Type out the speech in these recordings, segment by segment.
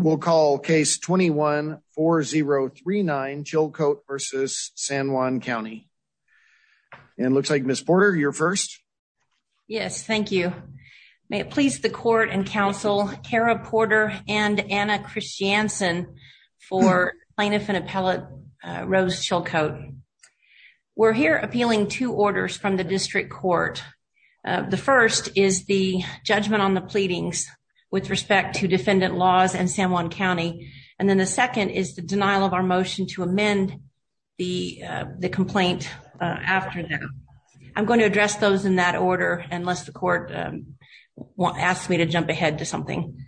We'll call case 21-4039, Chilcoat v. San Juan County. And it looks like Ms. Porter, you're first. Yes, thank you. May it please the court and counsel Kara Porter and Anna Christiansen for plaintiff and appellate Rose Chilcoat. We're here appealing two orders from the San Juan County. And then the second is the denial of our motion to amend the complaint after that. I'm going to address those in that order unless the court asks me to jump ahead to something.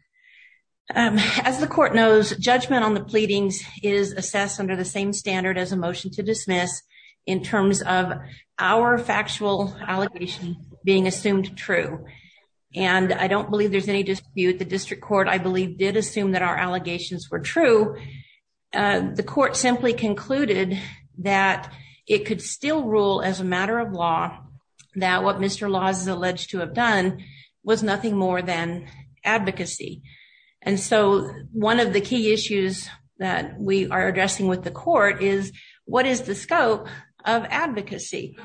As the court knows, judgment on the pleadings is assessed under the same standard as a motion to dismiss in terms of our factual allegation being assumed true. And I don't believe there's any dispute. The district I believe did assume that our allegations were true. The court simply concluded that it could still rule as a matter of law that what Mr. Laws is alleged to have done was nothing more than advocacy. And so one of the key issues that we are addressing with the court is what is the scope of advocacy?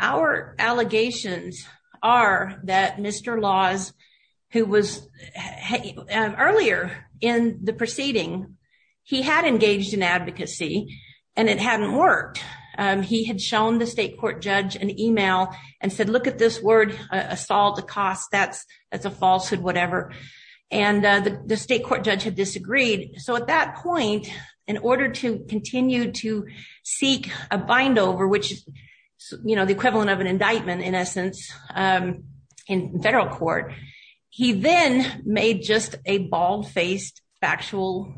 Our allegations are that Mr. Laws, who was earlier in the proceeding, he had engaged in advocacy, and it hadn't worked. He had shown the state court judge an email and said, look at this word, assault, accost, that's a falsehood, and the state court judge had disagreed. So at that point, in order to continue to seek a bind over, which is the equivalent of an indictment, in essence, in federal court, he then made just a bald faced factual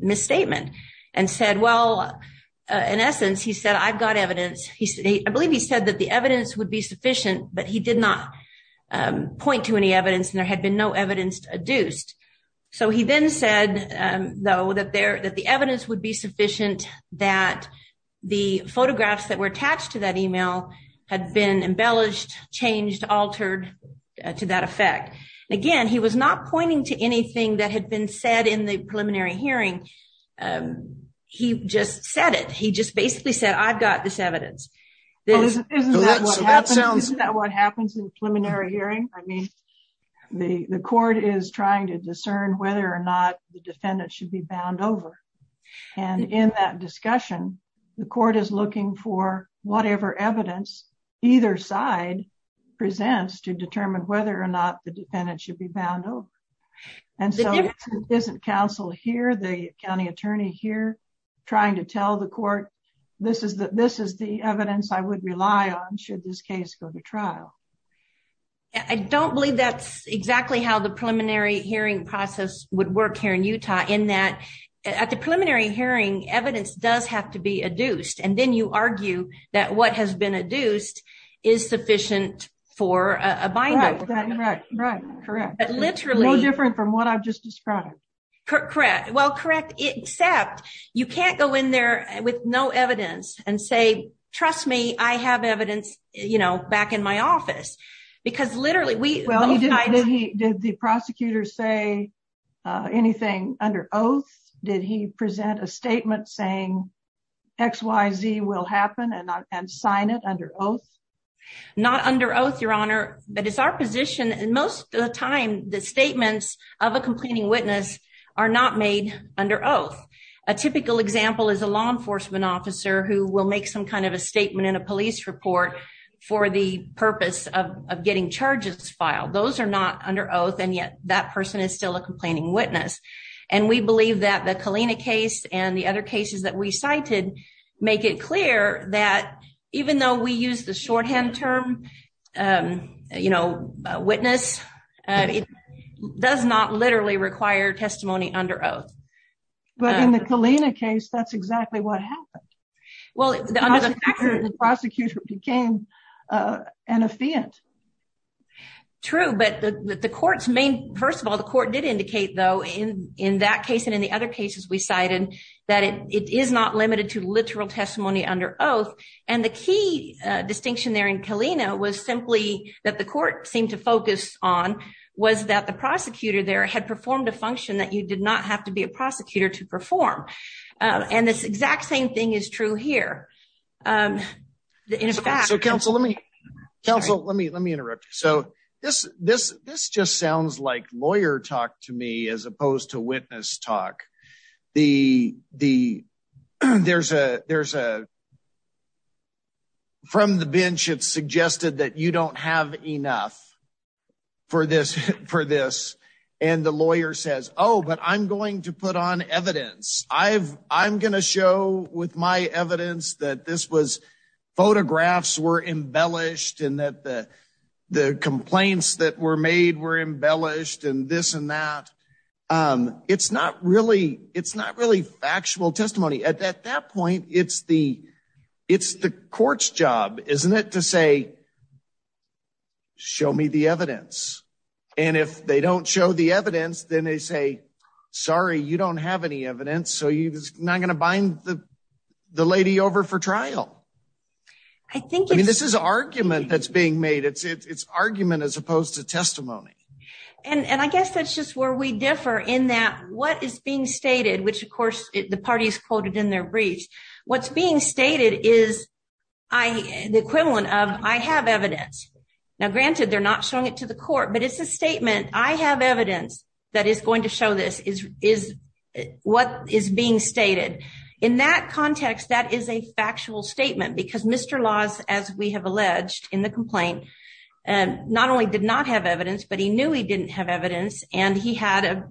misstatement and said, well, in essence, he said, I've got evidence. I believe he said that the evidence would be sufficient, but he did not point to any evidence and there had been no evidence adduced. So he then said, though, that the evidence would be sufficient that the photographs that were attached to that email had been embellished, changed, altered to that effect. Again, he was not pointing to anything that had been said in the preliminary hearing. He just said it. He just basically said, I've got this evidence. Isn't that what happens in a preliminary hearing? I mean, the court is trying to discern whether or not the defendant should be bound over. And in that discussion, the court is looking for whatever evidence either side presents to determine whether or not the defendant should be bound over. And so isn't counsel here, the county attorney here, trying to tell the court, this is the evidence I would rely on should this case go to trial. I don't believe that's exactly how the preliminary hearing process would work here in Utah, in that at the preliminary hearing, evidence does have to be adduced. And then you argue that what has been adduced is sufficient for a binder. Right, right, right. Correct. No different from what I've just described. Correct. Well, correct. Except you can't go in there with no evidence and say, trust me, I have evidence, you know, back in my office, because literally we- Well, did the prosecutor say anything under oath? Did he present a statement saying XYZ will happen and sign it under oath? Not under oath, your honor, but it's our position. And most of the time, the statements of a complaining witness are not made under oath. A typical example is a law enforcement officer who will make some kind of a statement in a police report for the purpose of getting charges filed. Those are not under oath, and yet that person is still a complaining witness. And we believe that the Kalina case and the other cases that we cited make it clear that even though we use the shorthand term, you know, witness, it does not literally require testimony under oath. But in the Kalina case, that's exactly what happened. Well, the prosecutor became an affiant. True, but the court's main- First of all, the court did indicate, though, in that case and in the other cases we cited, that it is not limited to literal testimony under oath. And the key distinction there in Kalina was simply that the was that the prosecutor there had performed a function that you did not have to be a prosecutor to perform. And this exact same thing is true here. In fact- So counsel, let me interrupt. So this just sounds like lawyer talk to me as opposed to witness talk. There's a, from the bench, it's suggested that you don't have enough for this. And the lawyer says, oh, but I'm going to put on evidence. I'm going to show with my evidence that this was, photographs were embellished and that the complaints that were made were embellished and this and that. It's not really factual testimony. At that point, it's the court's job, isn't it, to say, show me the evidence. And if they don't show the evidence, then they say, sorry, you don't have any evidence. So you're not going to bind the lady over for trial. I think- I mean, this is argument that's being made. It's argument as opposed to testimony. And I guess that's just where we differ in that what is being stated, which of course the party is quoted in their briefs, what's being stated is the equivalent of I have evidence. Now, granted, they're not showing it to the court, but it's a statement. I have evidence that is going to show this is what is being stated. In that context, that is a factual statement because Mr. Laws, as we have alleged in the complaint, not only did not have evidence, but he knew he didn't have evidence. And he had a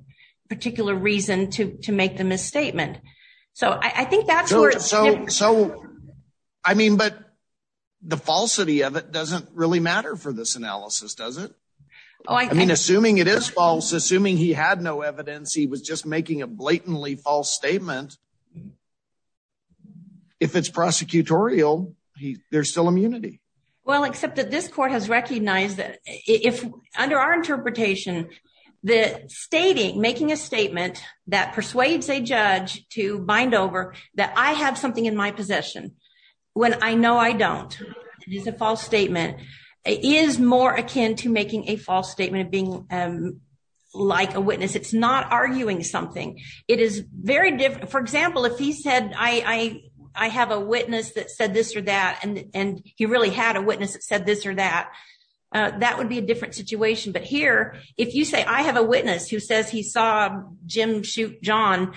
particular reason to make the misstatement. So I think that's where- So, I mean, but the falsity of it doesn't really matter for this analysis, does it? I mean, assuming it is false, assuming he had no evidence, he was just making a blatantly false statement. If it's prosecutorial, there's still immunity. Well, except that this court has recognized that under our interpretation, the stating, making a statement that persuades a judge to bind over that I have something in my possession when I know I don't, it is a false statement, is more akin to making a false statement of being like a witness. It's not arguing something. It is very different. For example, if he said, I have a witness that said this or that, and but here, if you say I have a witness who says he saw Jim shoot John,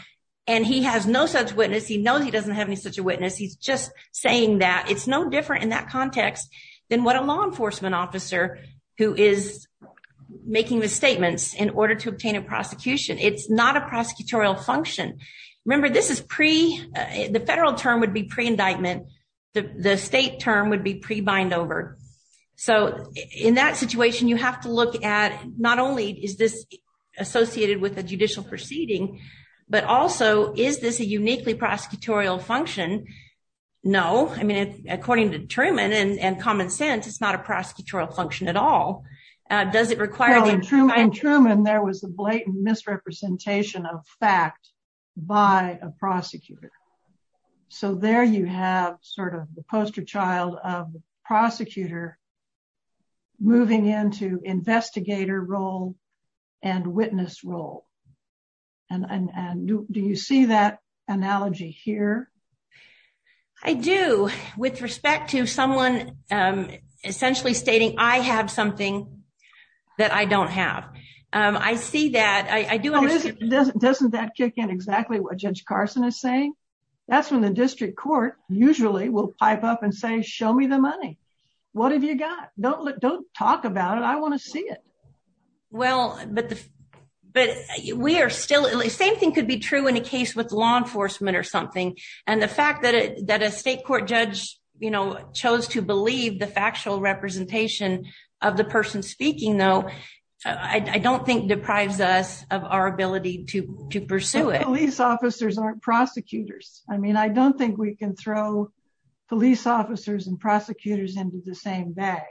and he has no such witness, he knows he doesn't have any such a witness. He's just saying that. It's no different in that context than what a law enforcement officer who is making the statements in order to obtain a prosecution. It's not a prosecutorial function. Remember, this is pre- the federal term would be to look at not only is this associated with a judicial proceeding, but also is this a uniquely prosecutorial function? No, I mean, according to Truman and common sense, it's not a prosecutorial function at all. Does it require- In Truman, there was a blatant misrepresentation of fact by a prosecutor. So there you have sort of the poster child of the prosecutor moving into investigator role and witness role. And do you see that analogy here? I do, with respect to someone essentially stating I have something that I don't have. I see that. I do- Doesn't that kick in exactly what Judge Carson is saying? That's when the district court usually will pipe up and say, show me the money. What have you got? Don't talk about it. I want to see it. Well, but we are still- Same thing could be true in a case with law enforcement or something. And the fact that a state court judge chose to believe the factual representation of the person speaking, though, I don't think deprives us of our ability to pursue it. Police officers aren't prosecutors. I mean, I don't think we can throw police officers and prosecutors into the same bag.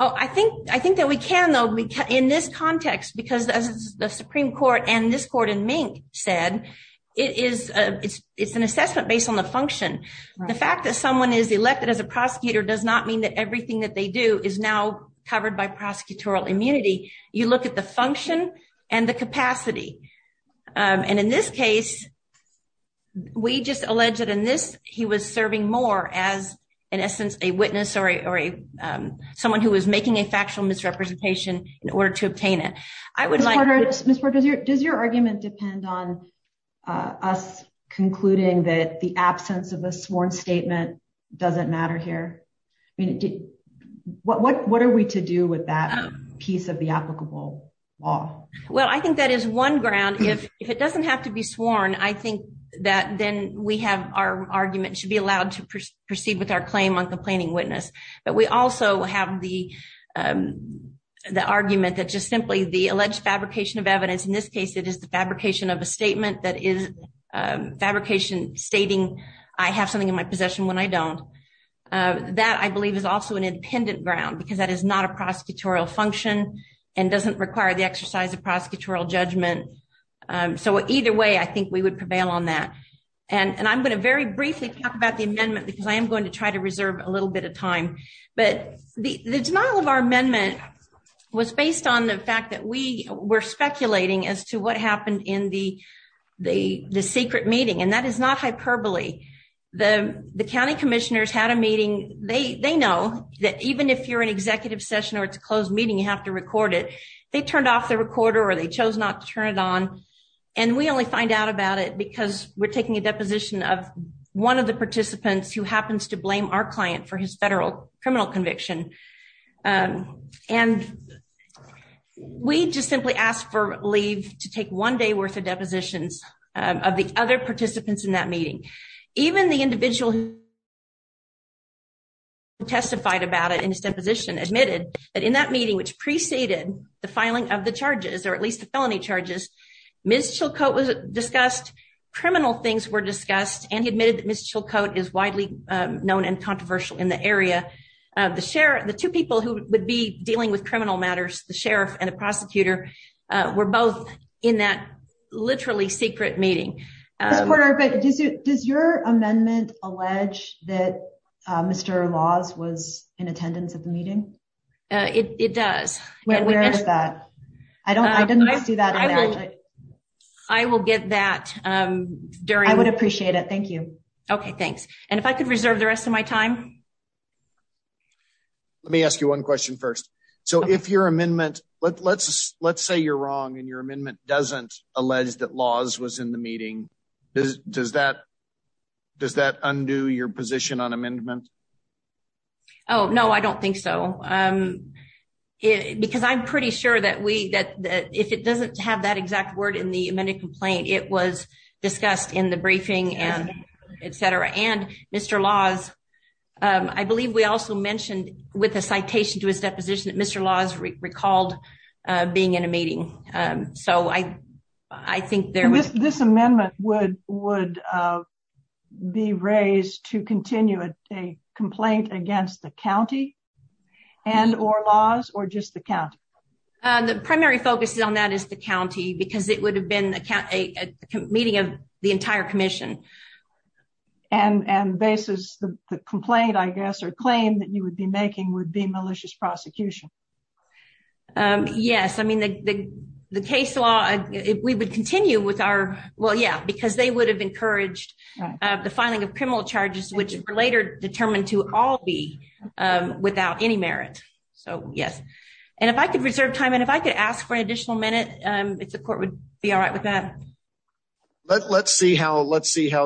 Oh, I think that we can, though, in this context, because as the Supreme Court and this court in Mink said, it's an assessment based on the function. The fact that someone is elected as a prosecutor does not mean that everything that they do is now covered by prosecutorial immunity. You look at the function and the capacity. And in this case, we just allege that in this, he was serving more as, in essence, a witness or someone who was making a factual misrepresentation in order to obtain it. I would like- Ms. Porter, does your argument depend on us concluding that the absence of a sworn statement doesn't matter here? I mean, what are we to do with that piece of the applicable law? Well, I think that is one ground. If it doesn't have to be sworn, I think that then we have our argument should be allowed to proceed with our claim on complaining witness. But we also have the argument that just simply the alleged fabrication of evidence, in this case, it is the fabrication of a statement that is fabrication stating, I have something in my possession when I don't. That, I believe, is also an independent ground because that is not a prosecutorial function and doesn't require the exercise of prosecutorial judgment. So either way, I think we would prevail on that. And I'm going to very briefly talk about the amendment because I am going to try to reserve a little bit of time. But the denial of our amendment was based on the fact that we were speculating as to what happened in the secret meeting. And that is not hyperbole. The county commissioners had a meeting. They know that even if you're an executive session or it's a closed meeting, you have to record it. They turned off the recorder or they chose not to turn it on. And we only find out about it because we're taking a deposition of one of the participants who happens to blame our client for his federal criminal conviction. And we just simply asked for leave to take one day worth of depositions of the other participants in that meeting. Even the individual who testified about it in his the filing of the charges, or at least the felony charges, Ms. Chilcote was discussed, criminal things were discussed, and he admitted that Ms. Chilcote is widely known and controversial in the area. The two people who would be dealing with criminal matters, the sheriff and the prosecutor, were both in that literally secret meeting. Ms. Porter, does your amendment allege that Mr. Laws was in attendance at the meeting? It does. Where is that? I didn't see that. I will get that during. I would appreciate it. Thank you. Okay, thanks. And if I could reserve the rest of my time. Let me ask you one question first. So if your amendment, let's say you're wrong and your amendment doesn't allege that Laws was in the meeting, does that undo your position on amendment? Oh, no, I don't think so. Because I'm pretty sure that if it doesn't have that exact word in the amended complaint, it was discussed in the briefing and etc. And Mr. Laws, I believe we also mentioned with a citation to his deposition that Mr. Laws recalled being in a meeting. So I think there was... This amendment would be raised to continue a complaint against the county and or Laws or just the county? The primary focus on that is the county because it would have been a meeting of the entire commission. And the basis of the complaint, I guess, or claim that you would be making would be malicious prosecution? Yes, I mean the case law, we would continue with our... Well, yeah, because they would have encouraged the filing of criminal charges, which are later determined to all be without any merit. So yes. And if I could reserve time, and if I could ask for an additional minute, if the court would be all right with that. Let's see how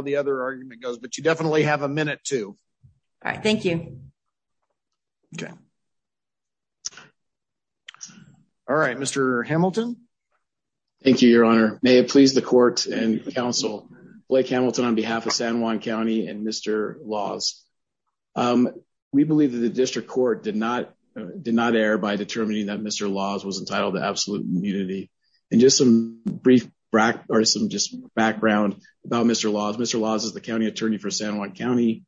the other argument goes. But you definitely have a minute too. All right. Thank you. Okay. All right. Mr. Hamilton. Thank you, Your Honor. May it please the court and counsel. Blake Hamilton on behalf of San Juan County and Mr. Laws. We believe that the district court did not did not err by determining that Mr. Laws was entitled to absolute immunity. And just some brief background or some just background about Mr. Laws. Mr. Laws is the county attorney for San Juan County.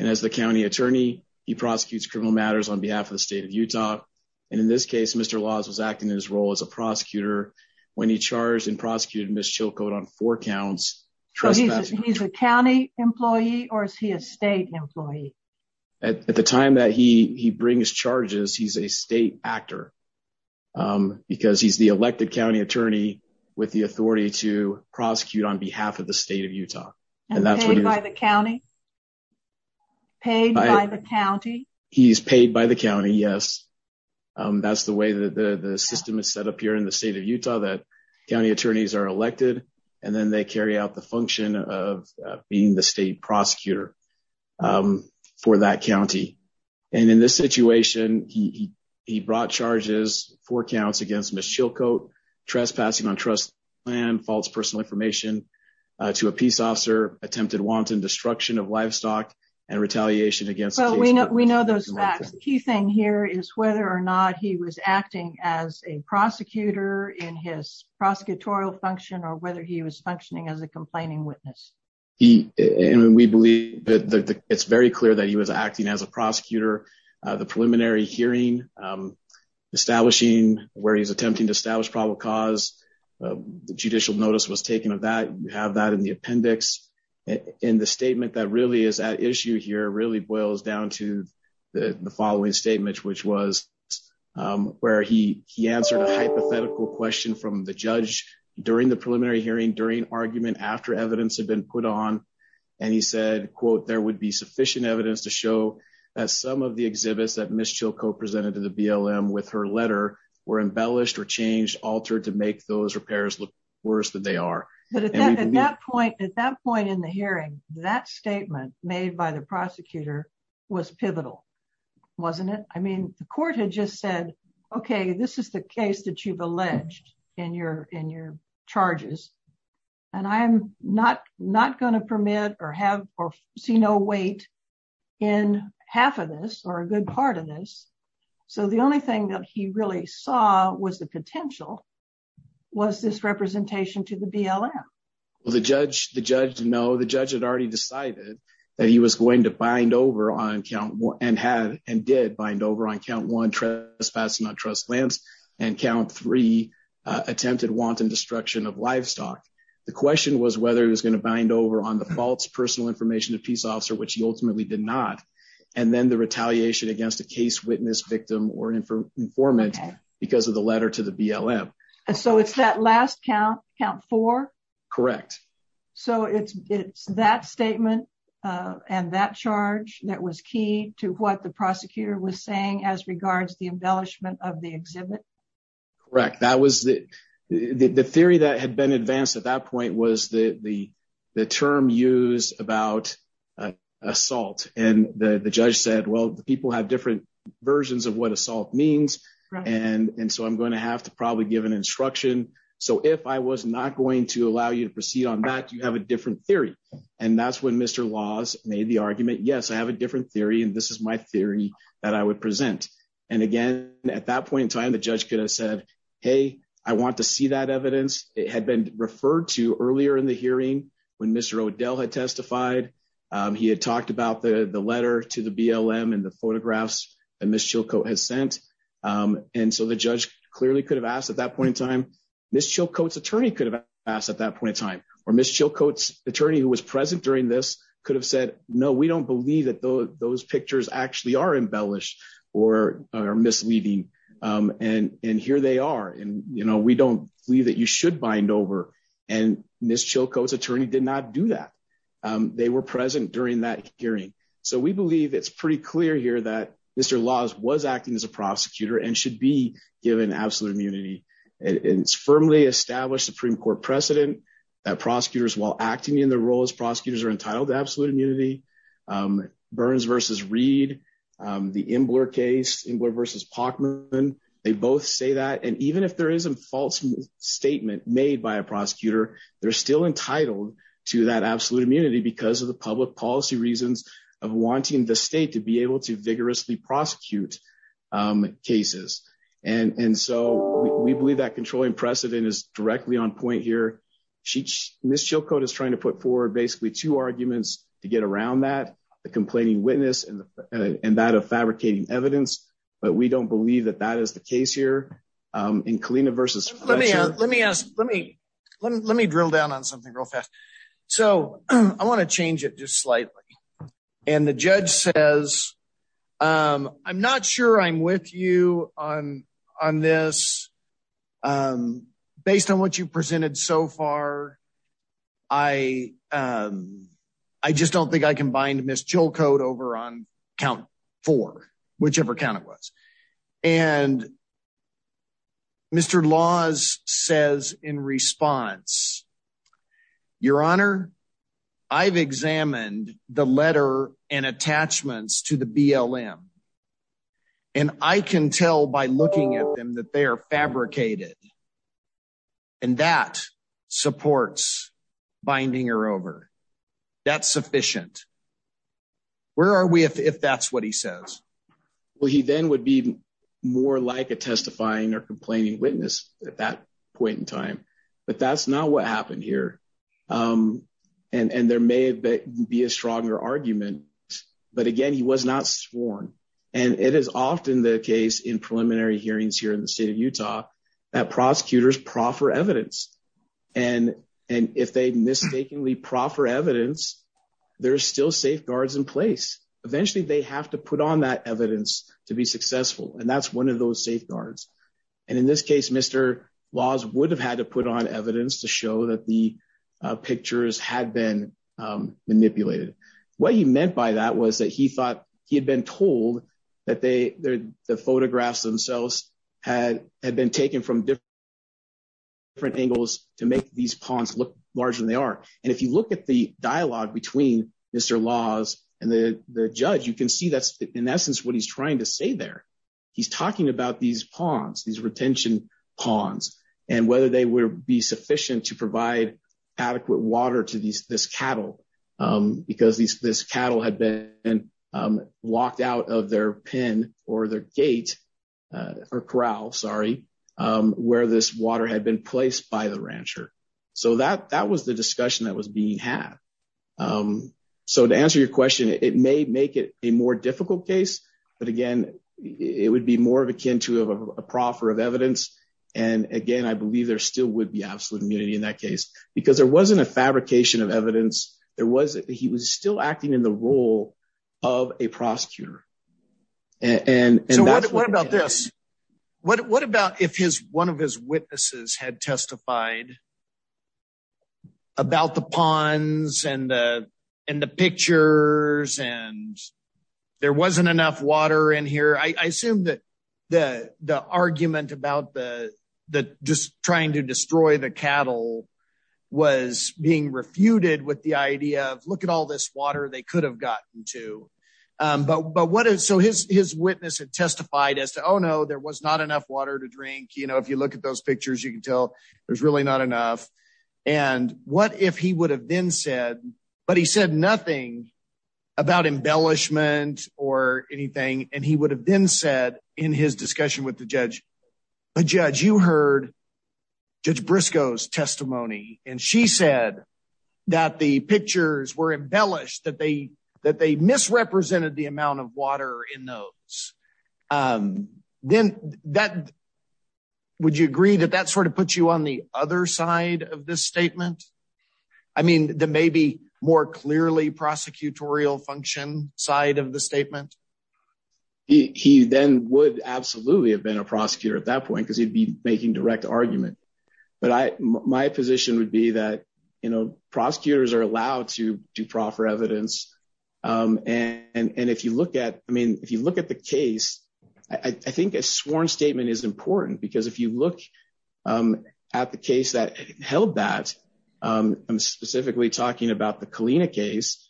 And as the county attorney, he prosecutes criminal matters on behalf of the state of Utah. And in this case, Mr. Laws was acting in his role as a prosecutor when he charged and prosecuted Ms. Chilcote on four counts. So he's a county employee or is he a state employee? At the time that he brings charges, he's a state actor because he's the elected county attorney with the authority to prosecute on behalf of the state of Utah. And paid by the county? Paid by the county? He's paid by the county. Yes. That's the way that the system is set up here in the state of Utah that county attorneys are elected and then they carry out the function of being the state prosecutor for that county. And in this situation, he brought charges four counts against Ms. Chilcote, trespassing on trust and false personal information to a peace officer, attempted wanton destruction of livestock, and retaliation against- We know those facts. The key thing here is whether or not he was acting as a prosecutor in his prosecutorial function or whether he was functioning as a complaining witness. We believe that it's very clear that he was acting as a prosecutor. The preliminary hearing, establishing where he's attempting to establish probable cause, the judicial notice was taken of that. You have that in the appendix. And the statement that really is at issue here really boils down to the following statement, which was where he answered a hypothetical question from the judge during the preliminary hearing, during argument, after evidence had been put on. And he said, quote, there would be sufficient evidence to show that some of the exhibits that Ms. Chilcote presented to the BLM with her letter were embellished or changed, altered to make those repairs look worse than they are. But at that point in the hearing, that statement made by the prosecutor was pivotal, wasn't it? I mean, the court had just said, okay, this is the case that you've alleged in your charges. And I'm not going to permit or see no weight in half of this or a good part of this. So the only thing that he really saw was the potential was this representation to the BLM. Well, the judge, the judge, no, the judge had already decided that he was going to bind over on count one and had and did bind over on count one trespassing on trust lands and count three attempted wanton destruction of livestock. The question was whether it was going to bind over on the false personal information of peace officer, which he ultimately did not. And then retaliation against a case witness victim or an informant because of the letter to the BLM. And so it's that last count, count four? Correct. So it's, it's that statement and that charge that was key to what the prosecutor was saying as regards the embellishment of the exhibit? Correct. That was the, the theory that had been advanced at that point was the, the, the term used about assault. And the judge said, well, the people have different versions of what assault means. And, and so I'm going to have to probably give an instruction. So if I was not going to allow you to proceed on that, you have a different theory. And that's when Mr. Laws made the argument. Yes, I have a different theory. And this is my theory that I would present. And again, at that point in time, the judge could have said, Hey, I want to see that evidence. It had been referred to He had talked about the, the letter to the BLM and the photographs that Ms. Chilcote has sent. And so the judge clearly could have asked at that point in time, Ms. Chilcote's attorney could have asked at that point in time, or Ms. Chilcote's attorney who was present during this could have said, no, we don't believe that those pictures actually are embellished or misleading. And, and here they are. And, you know, we don't believe that you should bind over. And Ms. Chilcote's attorney did not do that. They were present during that hearing. So we believe it's pretty clear here that Mr. Laws was acting as a prosecutor and should be given absolute immunity. And it's firmly established Supreme Court precedent that prosecutors while acting in the role as prosecutors are entitled to absolute immunity. Burns versus Reed, the Imbler case, Imbler versus Pachman, they both say that. And even if there is a false statement made by a prosecutor, they're still entitled to that absolute immunity because of the public policy reasons of wanting the state to be able to vigorously prosecute cases. And so we believe that controlling precedent is directly on point here. Ms. Chilcote is trying to put forward basically two arguments to get around that, the complaining witness and that of fabricating evidence. But we don't believe that that is the case here in Kalina versus Fletcher. Let me ask, let me drill down on something real fast. So I want to change it just slightly. And the judge says, I'm not sure I'm with you on this. Based on what you've presented so far, I just don't think I can bind Ms. Chilcote over on count four, whichever count it was. And Mr. Laws says in response, Your Honor, I've examined the letter and attachments to the BLM. And I can tell by looking at them that they are fabricated. And that supports binding her over. That's sufficient. Where are we if that's what he says? Well, he then would be more like a testifying or complaining witness at that point in time. But that's not what happened here. And there may be a stronger argument. But again, he was not sworn. And it is often the case in preliminary hearings here in the state of Utah, that prosecutors proffer evidence. And if they mistakenly proffer evidence, there's still safeguards in place. Eventually, they have to put on that evidence to be successful. And that's one of those safeguards. And in this case, Mr. Laws would have had to put on evidence to show that the pictures had been manipulated. What he meant by that was that he thought he had been told that the photographs themselves had been taken from different angles to make these ponds look larger than they are. And if you look at the dialogue between Mr. Laws and the judge, you can see that's in essence what he's trying to say there. He's talking about these ponds, these retention ponds, and whether they would be sufficient to provide adequate water to this cattle had been locked out of their pen or their gate, or corral, sorry, where this water had been placed by the rancher. So that was the discussion that was being had. So to answer your question, it may make it a more difficult case. But again, it would be more akin to a proffer of evidence. And again, I believe there still would be absolute immunity in that case, because there wasn't a rule of a prosecutor. And what about this? What about if his one of his witnesses had testified about the ponds and, and the pictures, and there wasn't enough water in here, I assume that the the argument about the, the just trying to destroy the cattle was being refuted with the water they could have gotten to. But what is so his his witness had testified as to Oh, no, there was not enough water to drink. You know, if you look at those pictures, you can tell there's really not enough. And what if he would have been said, but he said nothing about embellishment or anything. And he would have been said in his discussion with the judge, a judge, you heard, Judge briscoe's testimony, and she said that the pictures were embellished that they that they misrepresented the amount of water in those. Then that, would you agree that that sort of puts you on the other side of this statement? I mean, the maybe more clearly prosecutorial function side of the statement? He then would absolutely have been a prosecutor at that point, because he'd be making direct argument. But I, my position would be that, you know, prosecutors are allowed to do proper evidence. And if you look at I mean, if you look at the case, I think a sworn statement is important. Because if you look at the case that held that I'm specifically talking about the Kalina case,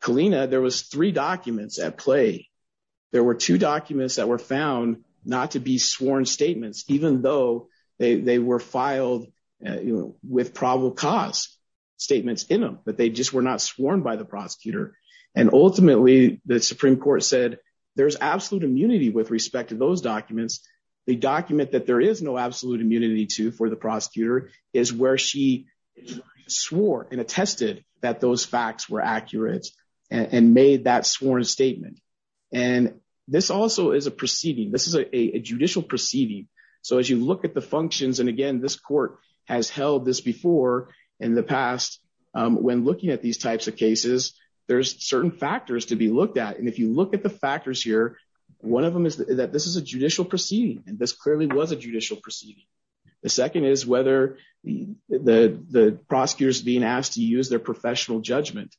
Kalina, there was three documents at play. There were two documents that were found not to be sworn statements, even though they were filed with probable cause statements in them, but they just were not sworn by the prosecutor. And ultimately, the Supreme Court said, there's absolute immunity with respect to those documents, the document that there is no absolute immunity to for the prosecutor is where she swore and attested that those facts were accurate, and made that sworn statement. And this also is a proceeding, this is a judicial proceeding. So as you look at the functions, and again, this court has held this before, in the past, when looking at these types of cases, there's certain factors to be looked at. And if you look at the factors here, one of them is that this is a judicial proceeding. And this clearly was a judicial proceeding. The second is whether the prosecutors being asked to use their professional judgment.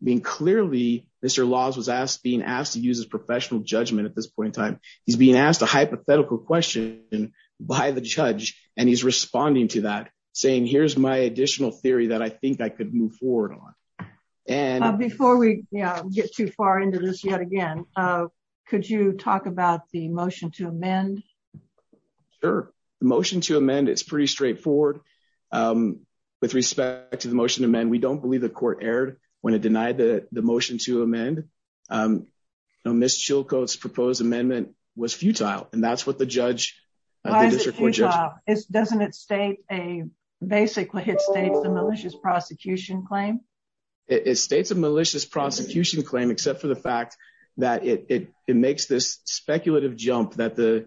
I mean, clearly, Mr. Laws was asked being asked to use his professional judgment at this point in time, he's being asked a hypothetical question by the judge. And he's responding to that saying, here's my additional theory that I think I could move forward on. And before we get too far into this yet again, could you talk about the motion to amend? Sure. The motion to amend is pretty straightforward. With respect to the motion to amend, we don't believe the court erred when it denied the motion to amend. Ms. Chilcote's proposed amendment was futile. And that's what the judge doesn't it state a basically hit states a malicious prosecution claim. It states a malicious prosecution claim, except for the fact that it makes this speculative jump that the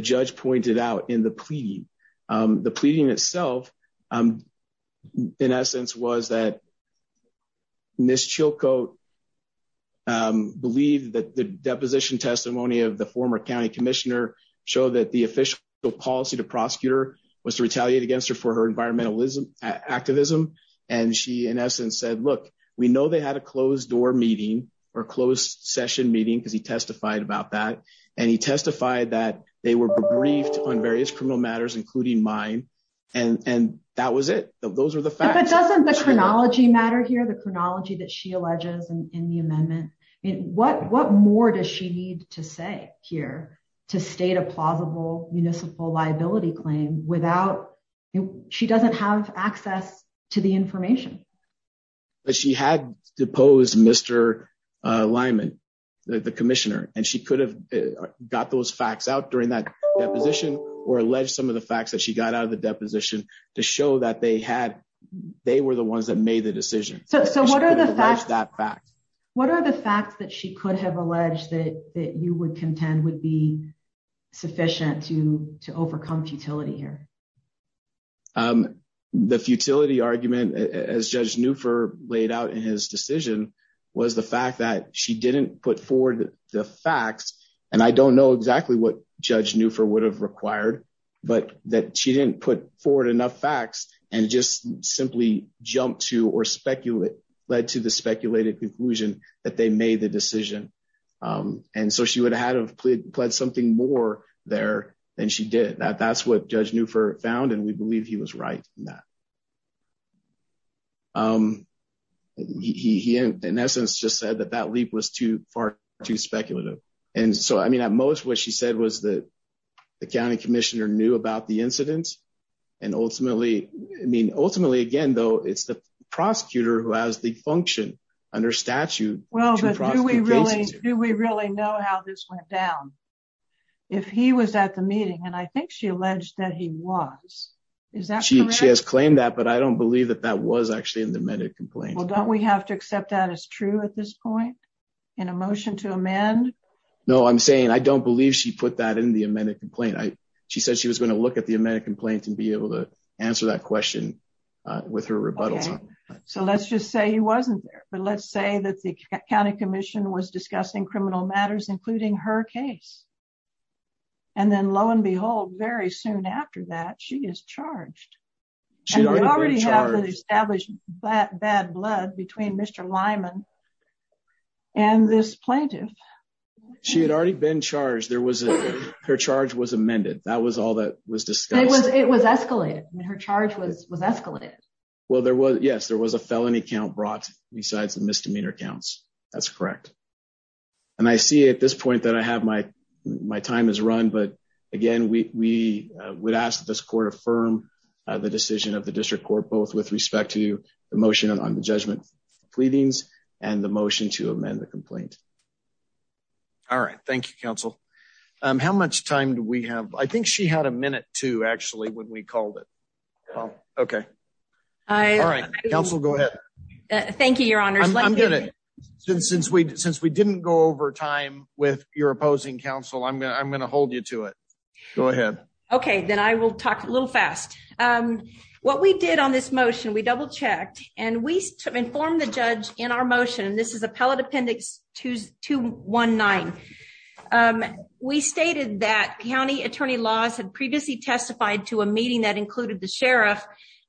judge pointed out in the plea. The pleading itself, in essence, was that Ms. Chilcote believed that the deposition testimony of the former county commissioner show that the official policy to prosecutor was to retaliate against her for her environmentalism activism. And she in essence said, look, we know they had a closed door meeting or closed session meeting because he testified about that. And he testified that they were briefed on various criminal matters, including mine. And that was it. Those are the facts. But doesn't the chronology matter here, the chronology that she alleges in the amendment? What more does she need to say here to state a plausible municipal liability claim without she doesn't have access to the information? But she had deposed Mr. Lyman, the commissioner, and she could have got those facts out during that deposition or alleged some of the facts that she got out of the deposition to show that they had they were the ones that made the decision. So what are the facts that What are the facts that she could have alleged that that you would contend would be sufficient to to overcome futility here? The futility argument, as Judge Newford laid out in his decision, was the fact that she didn't put forward the facts. And I don't know exactly what Judge Newford would have required, but that she they made the decision. And so she would have pled something more there. And she did that. That's what Judge Newford found. And we believe he was right in that. He, in essence, just said that that leap was too far too speculative. And so I mean, at most, what she said was that the county commissioner knew about the incident. And ultimately, I mean, ultimately, again, though, it's the prosecutor who has the function under statute. Well, do we really do we really know how this went down? If he was at the meeting, and I think she alleged that he was, is that she has claimed that but I don't believe that that was actually in the amended complaint. Don't we have to accept that as true at this point? In a motion to amend? No, I'm saying I don't believe she put that in the amended complaint. I she said she was going to look at the amended complaint and be able to answer that question with her rebuttals. So let's just say he wasn't there. But let's say that the county commission was discussing criminal matters, including her case. And then lo and behold, very soon after that she is charged. She already established that bad blood between Mr. Lyman and this plaintiff. She had already been charged there was her charge was amended. That was all that was discussed. It was escalated. Her charge was was escalated. Well, there was Yes, there was a felony count brought besides the misdemeanor counts. That's correct. And I see at this point that I have my, my time is run. But again, we would ask this court affirm the decision of the district court both with respect to the motion on the judgment, pleadings, and the motion to amend the complaint. All right. Thank you, counsel. How much time do we have? I think she had a minute to actually when we called it. Okay. All right. Council. Go ahead. Thank you, Your Honor. I'm gonna since since we since we didn't go over time with your opposing counsel, I'm gonna I'm gonna hold you to it. Go ahead. Okay, then I will talk a little fast. What we did on this motion, we double checked and we informed the judge in our motion. This is appellate appendix 219. We stated that county attorney laws had previously testified to a meeting that included the sheriff.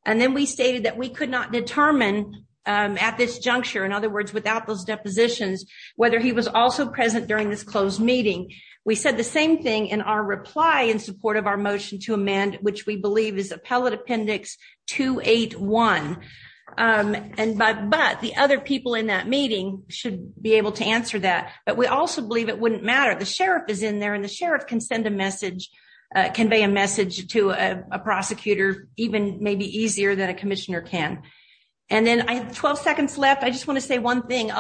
And then we stated that we could not determine at this juncture, in other words, without those depositions, whether he was also present during this closed meeting. We said the same thing in our reply in support of our motion to amend which we believe is appellate appendix 281. But the other people in that meeting should be able to answer that. But we also believe it wouldn't matter. The sheriff is in there and the sheriff can send a message, convey a message to a prosecutor even maybe easier than a commissioner can. And then I have 12 seconds left. I just want to say one thing.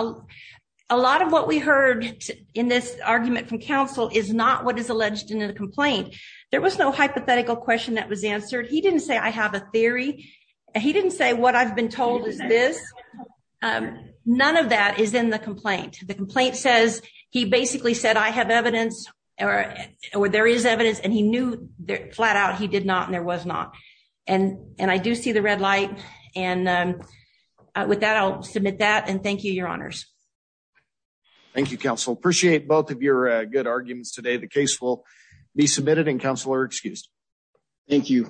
A lot of what we heard in this argument from counsel is not what is in the complaint. There was no hypothetical question that was answered. He didn't say I have a theory. He didn't say what I've been told is this. None of that is in the complaint. The complaint says he basically said I have evidence or there is evidence and he knew flat out he did not and there was not. And I do see the red light. And with that, I'll submit that and thank you, your honors. Thank you, counsel. Appreciate both of your good arguments today. The case will be submitted and counselor excused. Thank you.